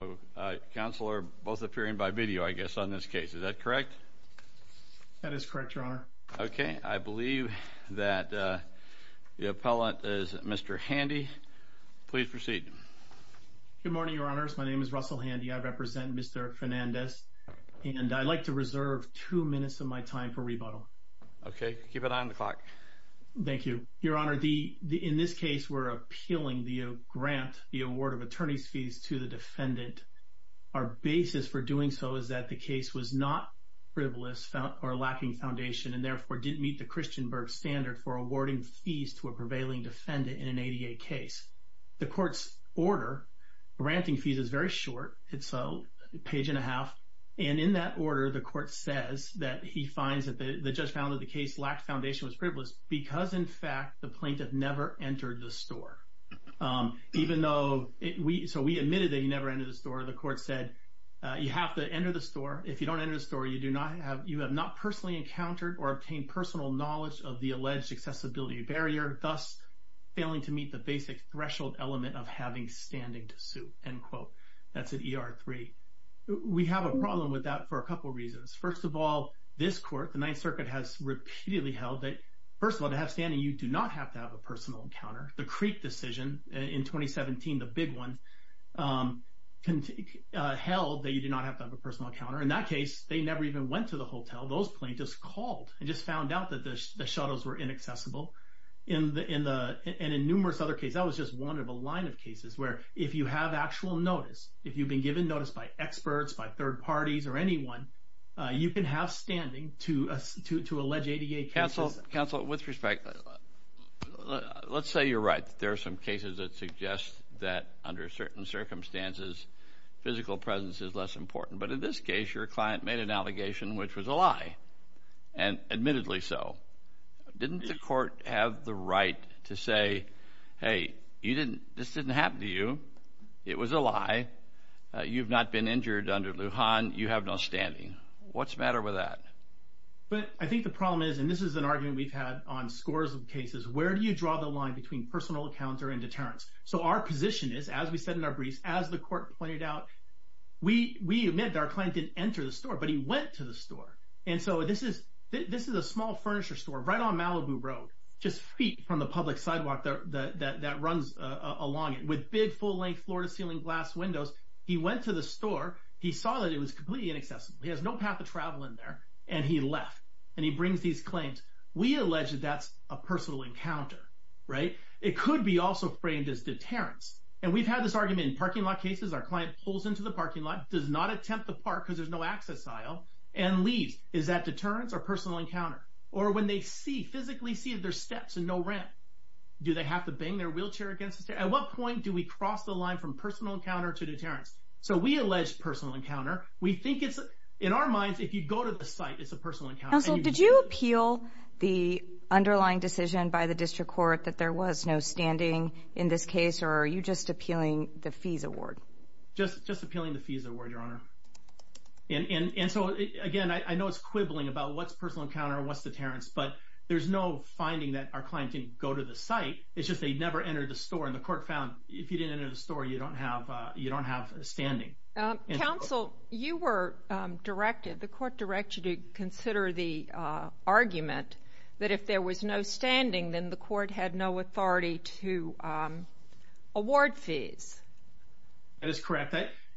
Oh counselor both appearing by video I guess on this case is that correct that is correct your honor okay I believe that the appellant is mr. Handy please proceed good morning your honors my name is Russell Handy I represent mr. Fernandez and I'd like to reserve two minutes of my time for rebuttal okay keep it on the clock thank you your honor the in this case we're appealing the grant the award of attorneys fees to the defendant our basis for doing so is that the case was not frivolous or lacking foundation and therefore didn't meet the Christian Berg standard for awarding fees to a prevailing defendant in an ADA case the court's order granting fees is very short it's a page and a half and in that order the court says that he finds that the judge found that the case lacked foundation was privileged because in fact the even though it we so we admitted that you never enter the store the court said you have to enter the store if you don't enter the store you do not have you have not personally encountered or obtained personal knowledge of the alleged accessibility barrier thus failing to meet the basic threshold element of having standing to sue and quote that's at er3 we have a problem with that for a couple reasons first of all this court the Ninth Circuit has repeatedly held that first of all to have standing you do not have to have a personal encounter the Creek decision in 2017 the big one can take held that you do not have to have a personal counter in that case they never even went to the hotel those plaintiffs called and just found out that the shuttles were inaccessible in the in the and in numerous other case that was just one of a line of cases where if you have actual notice if you've been given notice by experts by third parties or anyone you can have standing to us to to allege ADA counsel with respect let's say you're right there are some cases that suggest that under certain circumstances physical presence is less important but in this case your client made an allegation which was a lie and admittedly so didn't the court have the right to say hey you didn't this didn't happen to you it was a lie you've not been injured under Lujan you have no standing what's the problem is and this is an argument we've had on scores of cases where do you draw the line between personal counter and deterrence so our position is as we said in our briefs as the court pointed out we we admit our client didn't enter the store but he went to the store and so this is this is a small furniture store right on Malibu Road just feet from the public sidewalk there that runs along it with big full-length floor-to-ceiling glass windows he went to the store he saw that it was completely inaccessible he has no path to travel in there and he left and he brings these claims we alleged that's a personal encounter right it could be also framed as deterrence and we've had this argument in parking lot cases our client pulls into the parking lot does not attempt the park because there's no access aisle and leaves is that deterrence or personal encounter or when they see physically see their steps and no ramp do they have to bang their wheelchair against it at what point do we cross the line from personal encounter to deterrence so we allege personal encounter we think it's in our minds if you go to the site it's a personal account so did you appeal the underlying decision by the district court that there was no standing in this case or are you just appealing the fees award just just appealing the fees award your honor and and and so again I know it's quibbling about what's personal encounter what's deterrence but there's no finding that our client didn't go to the site it's just they never entered the store and the court found if you didn't enter the store you don't have you don't have a standing council you were directed the court directed to consider the argument that if there was no standing then the court had no authority to award fees that is correct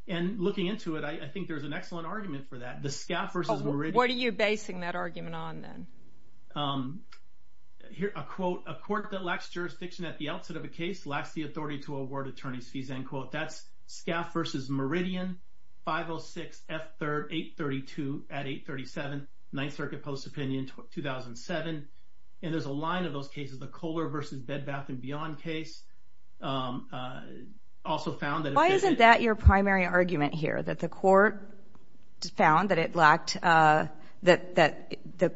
and looking into it I think there's an excellent argument for that the scaffers what are you basing that argument on then here a quote a court that lacks jurisdiction at the outset of a case lacks the authority to award attorneys fees and quote that's scaffers is meridian 506 f3 832 at 837 9th Circuit Post opinion 2007 and there's a line of those cases the Kohler versus bed bath and beyond case also found that why isn't that your primary argument here that the court found that it lacked that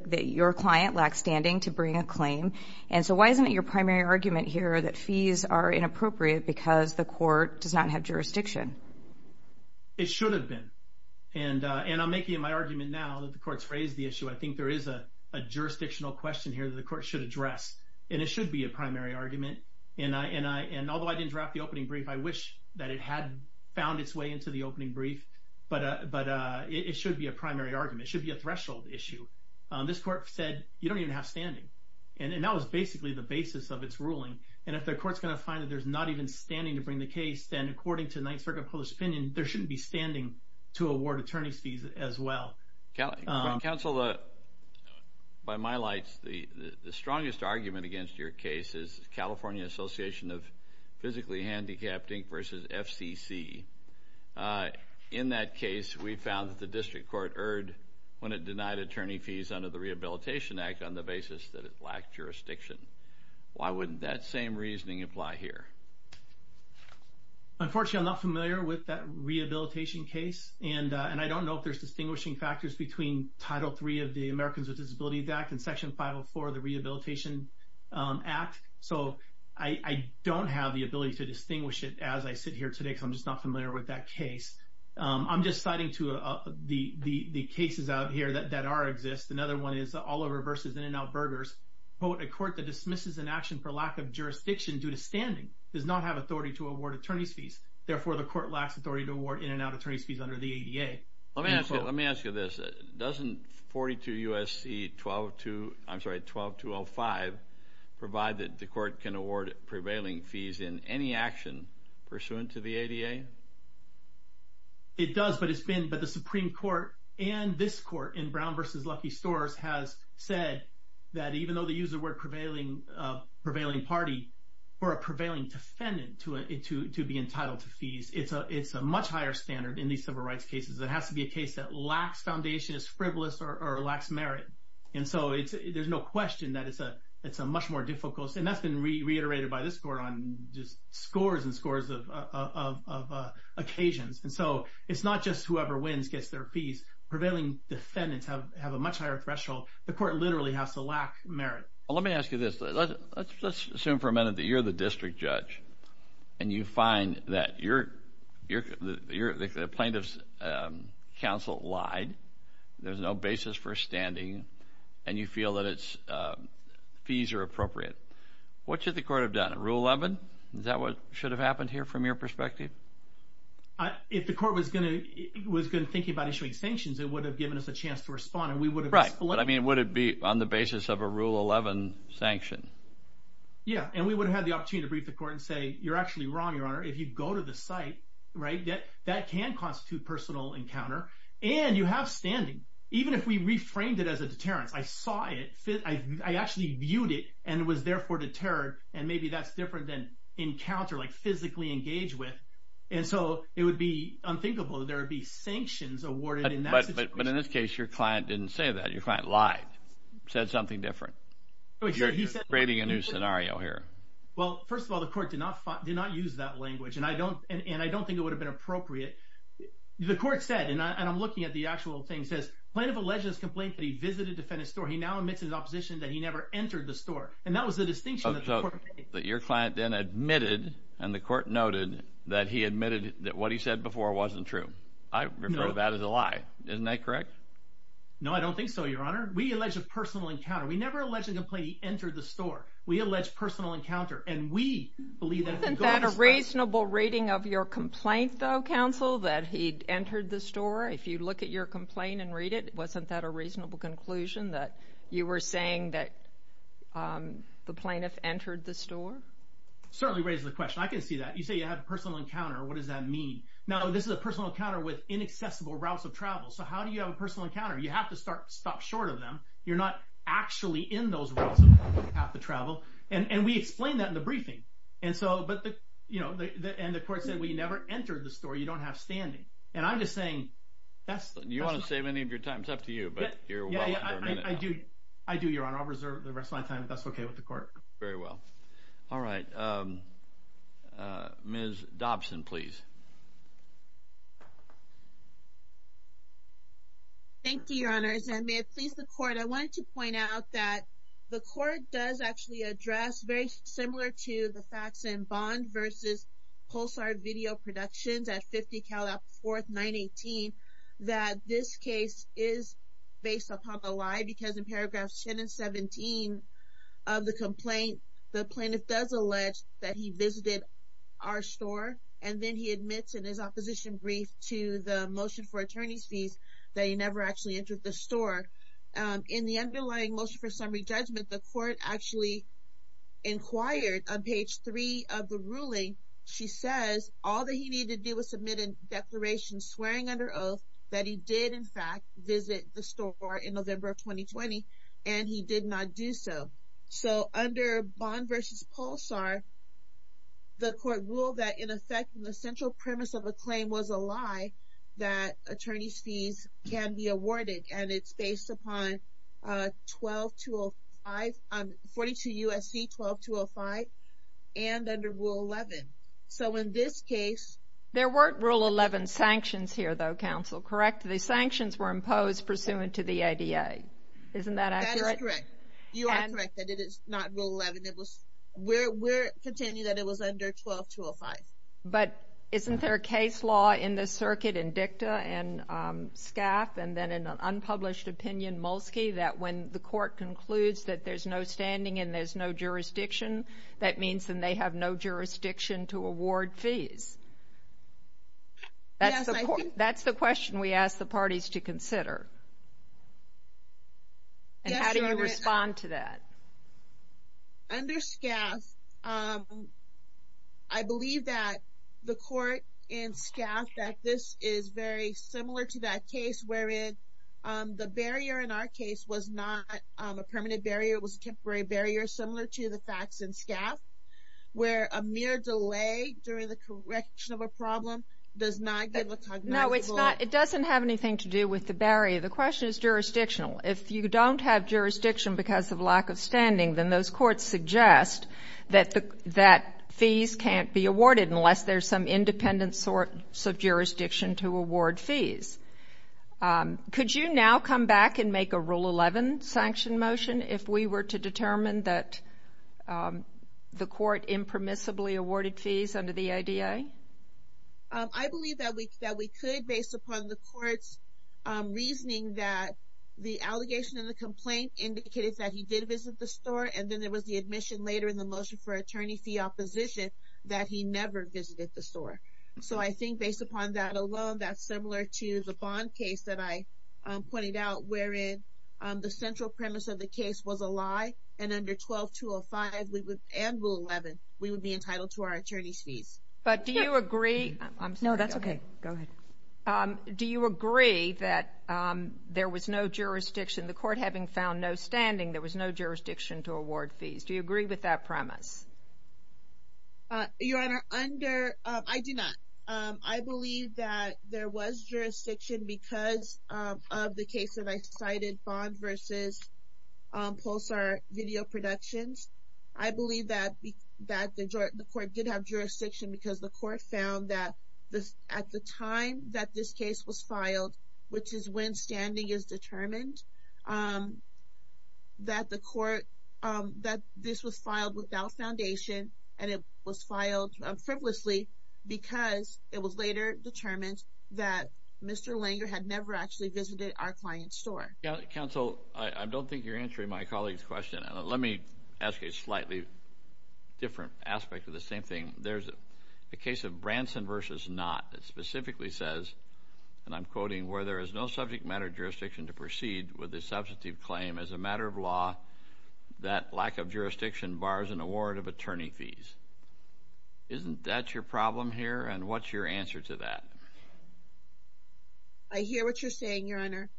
that your client lacks standing to bring a claim and so why isn't it your primary argument here that fees are inappropriate because the court does not have jurisdiction it should have been and and I'm making my argument now that the courts raised the issue I think there is a jurisdictional question here that the court should address and it should be a primary argument and I and I and although I didn't draft the opening brief I wish that it had found its way into the opening brief but but it should be a primary argument should be a threshold issue this court said you don't even have standing and that was basically the basis of its ruling and if the courts going to find that there's not even standing to bring the case then according to 9th Circuit Post opinion there shouldn't be standing to award attorney's fees as well Kelly counsel uh by my lights the the strongest argument against your case is California Association of physically handicapped Inc versus FCC in that case we found that the district court erred when it denied attorney fees under the why wouldn't that same reasoning apply here unfortunately I'm not familiar with that rehabilitation case and and I don't know if there's distinguishing factors between title three of the Americans with Disabilities Act and section 504 the Rehabilitation Act so I don't have the ability to distinguish it as I sit here today so I'm just not familiar with that case I'm just citing to the the the cases out here that that are exist another one is all over versus in and out burgers but a court that dismisses an action for lack of jurisdiction due to standing does not have authority to award attorney's fees therefore the court lacks authority to award in and out attorney's fees under the ADA let me ask you let me ask you this doesn't 42 USC 12 to I'm sorry 12 to 05 provided the court can award prevailing fees in any action pursuant to the ADA it does but it's been but the Supreme Court and this court in Brown versus Lucky stores has said that even though the user were prevailing prevailing party or a prevailing defendant to it to be entitled to fees it's a it's a much higher standard in these civil rights cases it has to be a case that lacks foundation is frivolous or lacks merit and so it's there's no question that it's a it's a much more difficult and that's been reiterated by this court on just scores and scores of occasions and so it's not just whoever wins gets their fees prevailing defendants have have a much higher threshold the court literally has to lack merit let me ask you this let's assume for a minute that you're the district judge and you find that you're you're the plaintiffs counsel lied there's no basis for standing and you feel that it's fees are appropriate what should the court have done rule 11 is that what should have happened here from your perspective if the court was gonna was good thinking about issuing sanctions it would have given us a chance to respond and we would have right what I mean would it be on the basis of a rule 11 sanction yeah and we would have the opportunity to brief the court and say you're actually wrong your honor if you go to the site right that that can constitute personal encounter and you have standing even if we reframed it as a deterrence I saw it fit I actually viewed it and it was therefore deterred and maybe that's different than encounter like physically engaged with and so it would be unthinkable there would be sanctions awarded in this case your client didn't say that your client lied said something different you're creating a new scenario here well first of all the court did not did not use that language and I don't and I don't think it would have been appropriate the court said and I'm looking at the actual thing says plaintiff alleged this complaint that he visited defendant store he now admits his opposition that he never entered the store and that was the distinction that your client then admitted and the court noted that he admitted that what he said before wasn't true I know that is a lie isn't that correct no I don't think so your honor we allege a personal encounter we never alleged a complaint he entered the store we allege personal encounter and we believe isn't that a reasonable reading of your complaint though counsel that he'd entered the store if you look at your complaint and read it wasn't that a reasonable conclusion that you were saying that the plaintiff entered the store certainly raises the question I can see that you say you have a personal encounter what does that mean now this is a personal encounter with inaccessible routes of travel so how do you have a personal encounter you have to start stop short of them you're not actually in those routes have to travel and and we explained that in the briefing and so but the you know the and the court said we never entered the store you don't have standing and I'm just saying that's you want to save any of your time it's up to you but I do I do your honor I'll reserve the rest of my time if that's okay with the court very well all right mrs. Dobson please thank you your honors and may it please the court I wanted to point out that the court does actually address very similar to the facts and bond versus pulsar video productions at 50 Cal up 4th 918 that this case is based upon the lie because in paragraphs 10 and 17 of the complaint the plaintiff does allege that he visited our store and then he admits in his opposition brief to the motion for attorney's fees that he never actually entered the store in the underlying motion for summary judgment the court actually inquired on page 3 of the ruling she says all that he needed to do was submit a declaration swearing under oath that he did in fact visit the store in November of 2020 and he did not do so so under bond versus pulsar the court ruled that in effect in the central premise of a claim was a lie that attorney's fees can be awarded and it's based upon 12 to 5 on 42 USC 12 to 0 5 and under rule 11 so in this case there weren't rule 11 sanctions here though counsel correct the sanctions were imposed pursuant to the ADA but isn't there a case law in the circuit and dicta and scaf and then in an unpublished opinion Molsky that when the court concludes that there's no standing and there's no jurisdiction that means then they have no jurisdiction to award fees that's the court that's the question we ask the parties to consider and how do you respond to that under scaf I believe that the court in scaf that this is very similar to that case wherein the barrier in our case was not a permanent barrier was temporary barrier similar to the facts in scaf where a mere delay during the correction of a problem does not know it's not it doesn't have anything to do with the barrier the question is jurisdictional if you don't have jurisdiction because of lack of standing than those courts suggest that that fees can't be awarded unless there's some independent sort of jurisdiction to award fees could you now come back and make a rule 11 sanction motion if we were to determine that the court impermissibly awarded fees under the ADA I believe that week that we could based upon the court's reasoning that the allegation of the complaint indicated that he did visit the store and then there was the admission later in the motion for attorney fee opposition that he never visited the store so I think based upon that alone that's similar to the bond case that I pointed out wherein the central premise of the case was a lie and under 12 205 we would and rule 11 we would be entitled to our attorneys fees but do you agree no that's okay go ahead do you agree that there was no jurisdiction the court having found no standing there was no jurisdiction to award fees do you agree with that premise your honor under I do not I believe that there was jurisdiction because of the case that I cited bond versus pulsar video productions I believe that that the court did have jurisdiction because the court found that this at the time that this case was filed which is when standing is determined that the court that this was filed without foundation and it was never actually visited our client store council I don't think you're answering my colleagues question let me ask a slightly different aspect of the same thing there's a case of Branson versus not that specifically says and I'm quoting where there is no subject matter jurisdiction to proceed with a substantive claim as a matter of law that lack of jurisdiction bars an award of attorney fees isn't that your problem here and what's your answer to that I hear what you're saying your honor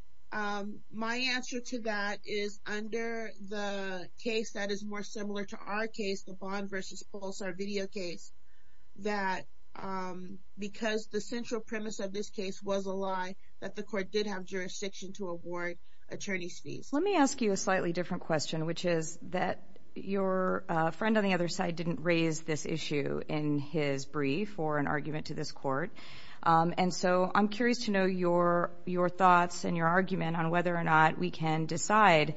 my answer to that is under the case that is more similar to our case the bond versus pulsar video case that because the central premise of this case was a lie that the court did have jurisdiction to award attorneys fees let me ask you a slightly different question which is that your friend on the other side didn't raise this issue in his brief or argument to this court and so I'm curious to know your your thoughts and your argument on whether or not we can decide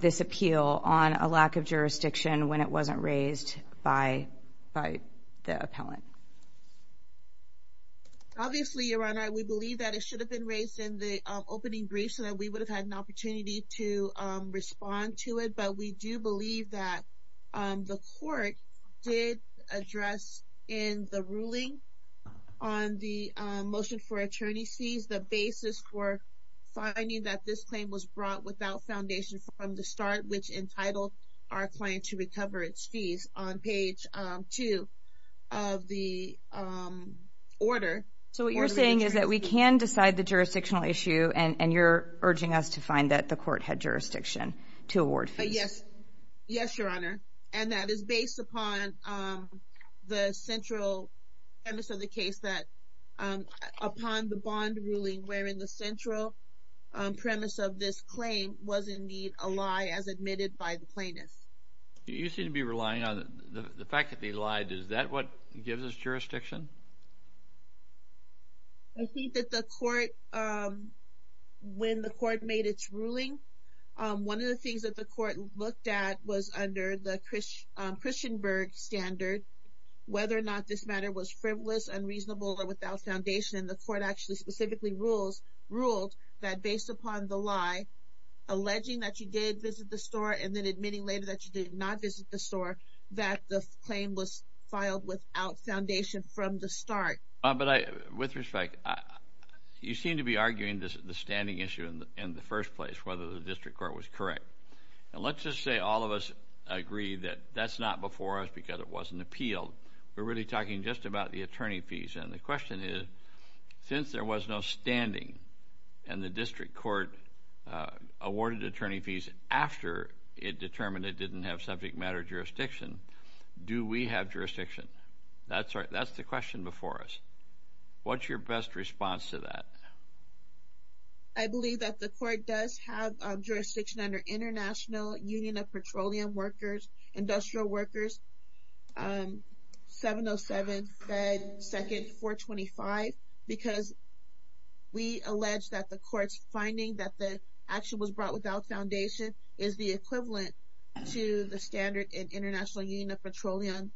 this appeal on a lack of jurisdiction when it wasn't raised by by the appellant obviously your honor we believe that it should have been raised in the opening brief so that we would have had an opportunity to respond to it but we do believe that the court did address in the ruling on the motion for attorney sees the basis for finding that this claim was brought without foundation from the start which entitled our client to recover its fees on page two of the order so what you're saying is that we can decide the jurisdictional issue and and you're urging us to find that the court had jurisdiction to award yes yes your honor and that is based upon the central premise of the case that upon the bond ruling wherein the central premise of this claim was indeed a lie as admitted by the plaintiffs you seem to be relying on the fact that they lied is that what gives us jurisdiction I think that the court when the court made its ruling one of the things that the court looked at was under the Chris Christian Berg standard whether or not this matter was frivolous unreasonable or without foundation the court actually specifically rules ruled that based upon the lie alleging that you did visit the store and then admitting later that you did not visit the store that the claim was filed without foundation from the start but I with respect you seem to be arguing this is the standing issue in the first place whether the district court was correct and let's just say all of us agree that that's not before us because it wasn't appealed we're really talking just about the attorney fees and the question is since there was no standing and the district court awarded attorney fees after it determined it didn't have subject matter jurisdiction do we have jurisdiction that's right that's the question before us what's your best response to that I believe that the court does have jurisdiction under International Union of Petroleum workers industrial workers 707 and second 425 because we allege that the courts finding that the action was brought without foundation is the equivalent to the standard in International Union of Petroleum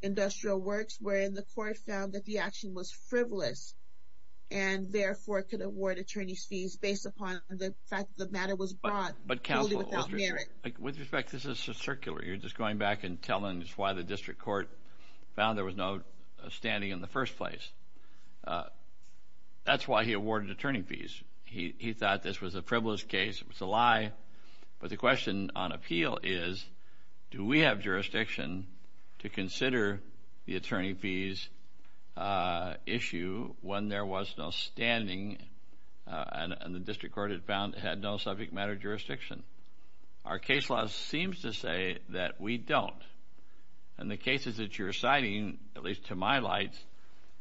industrial works wherein the court found that the action was frivolous and therefore could award attorneys fees based upon the fact that matter was brought but counsel with respect this is a circular you're just going back and telling us why the district court found there was no standing in the first place that's why he awarded attorney fees he thought this was a frivolous case it was a lie but the question on appeal is do we have jurisdiction to consider the and the district court has found it had no subject matter jurisdiction our case law seems to say that we don't and the cases that you're citing at least to my lights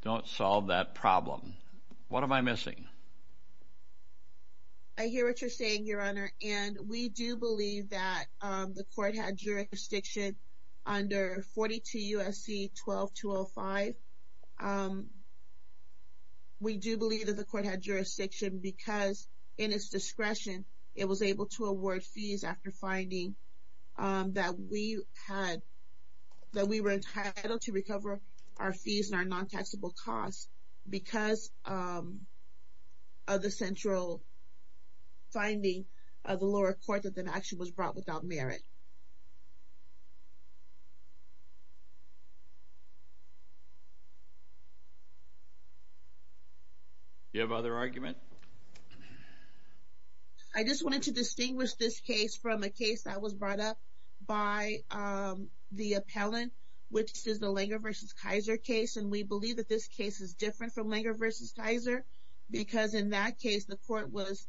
don't solve that problem what am I missing I hear what you're saying your honor and we do believe that the court had jurisdiction under 42 USC 12 205 we do believe that the court had jurisdiction because in its discretion it was able to award fees after finding that we had that we were entitled to recover our fees and our non-taxable costs because of the central finding of the lower court that the action was brought without merit you have other argument I just wanted to distinguish this case from a case that was brought up by the appellant which is the Langer versus Kaiser case and we believe that this case is different from Langer versus Kaiser because in that case the court was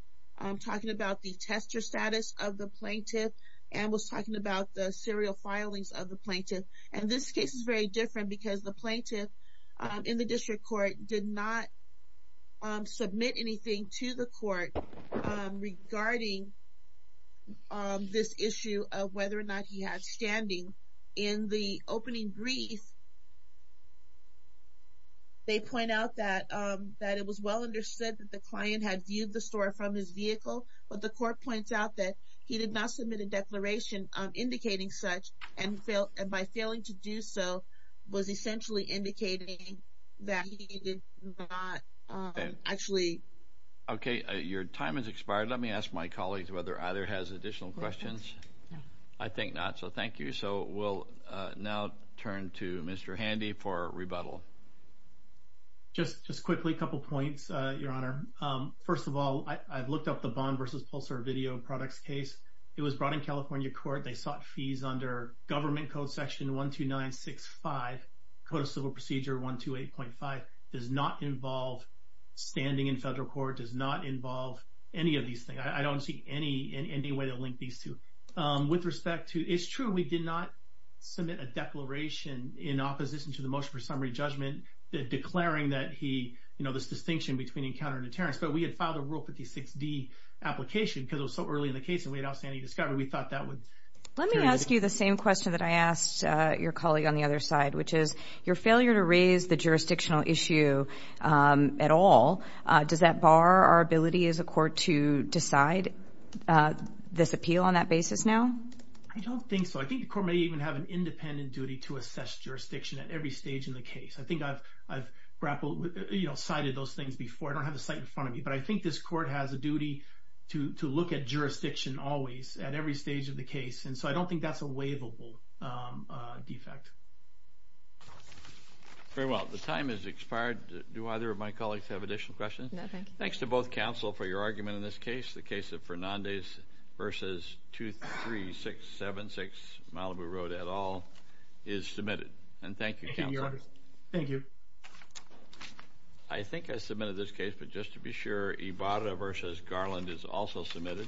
talking about the tester status of the plaintiff and was talking about the serial filings of the plaintiff and this submit anything to the court regarding this issue of whether or not he had standing in the opening brief they point out that that it was well understood that the client had viewed the store from his vehicle but the court points out that he did not submit a declaration on indicating such and felt and by failing to do so was essentially indicating that actually okay your time is expired let me ask my colleagues whether either has additional questions I think not so thank you so we'll now turn to mr. handy for rebuttal just just quickly a couple points your honor first of all I've looked up the bond versus Pulsar video products case it was brought in California court they sought fees under government code section one two nine six five code of civil procedure one two eight point five does not involve standing in federal court does not involve any of these things I don't see any in any way to link these two with respect to it's true we did not submit a declaration in opposition to the motion for summary judgment declaring that he you know this distinction between encounter and deterrence but we had filed a rule 56d application because it was so early in the case and we had outstanding let me ask you the same question that I asked your colleague on the other side which is your failure to raise the jurisdictional issue at all does that bar our ability as a court to decide this appeal on that basis now I don't think so I think the court may even have an independent duty to assess jurisdiction at every stage in the case I think I've I've grappled with you know cited those things before I don't have a site in front of me but I think this at every stage of the case and so I don't think that's a waivable defect very well the time is expired do either of my colleagues have additional questions thanks to both counsel for your argument in this case the case of Fernandez versus two three six seven six Malibu Road at all is submitted and thank you thank you I think I submitted this case but just to be sure Ibarra versus Garland is also submitted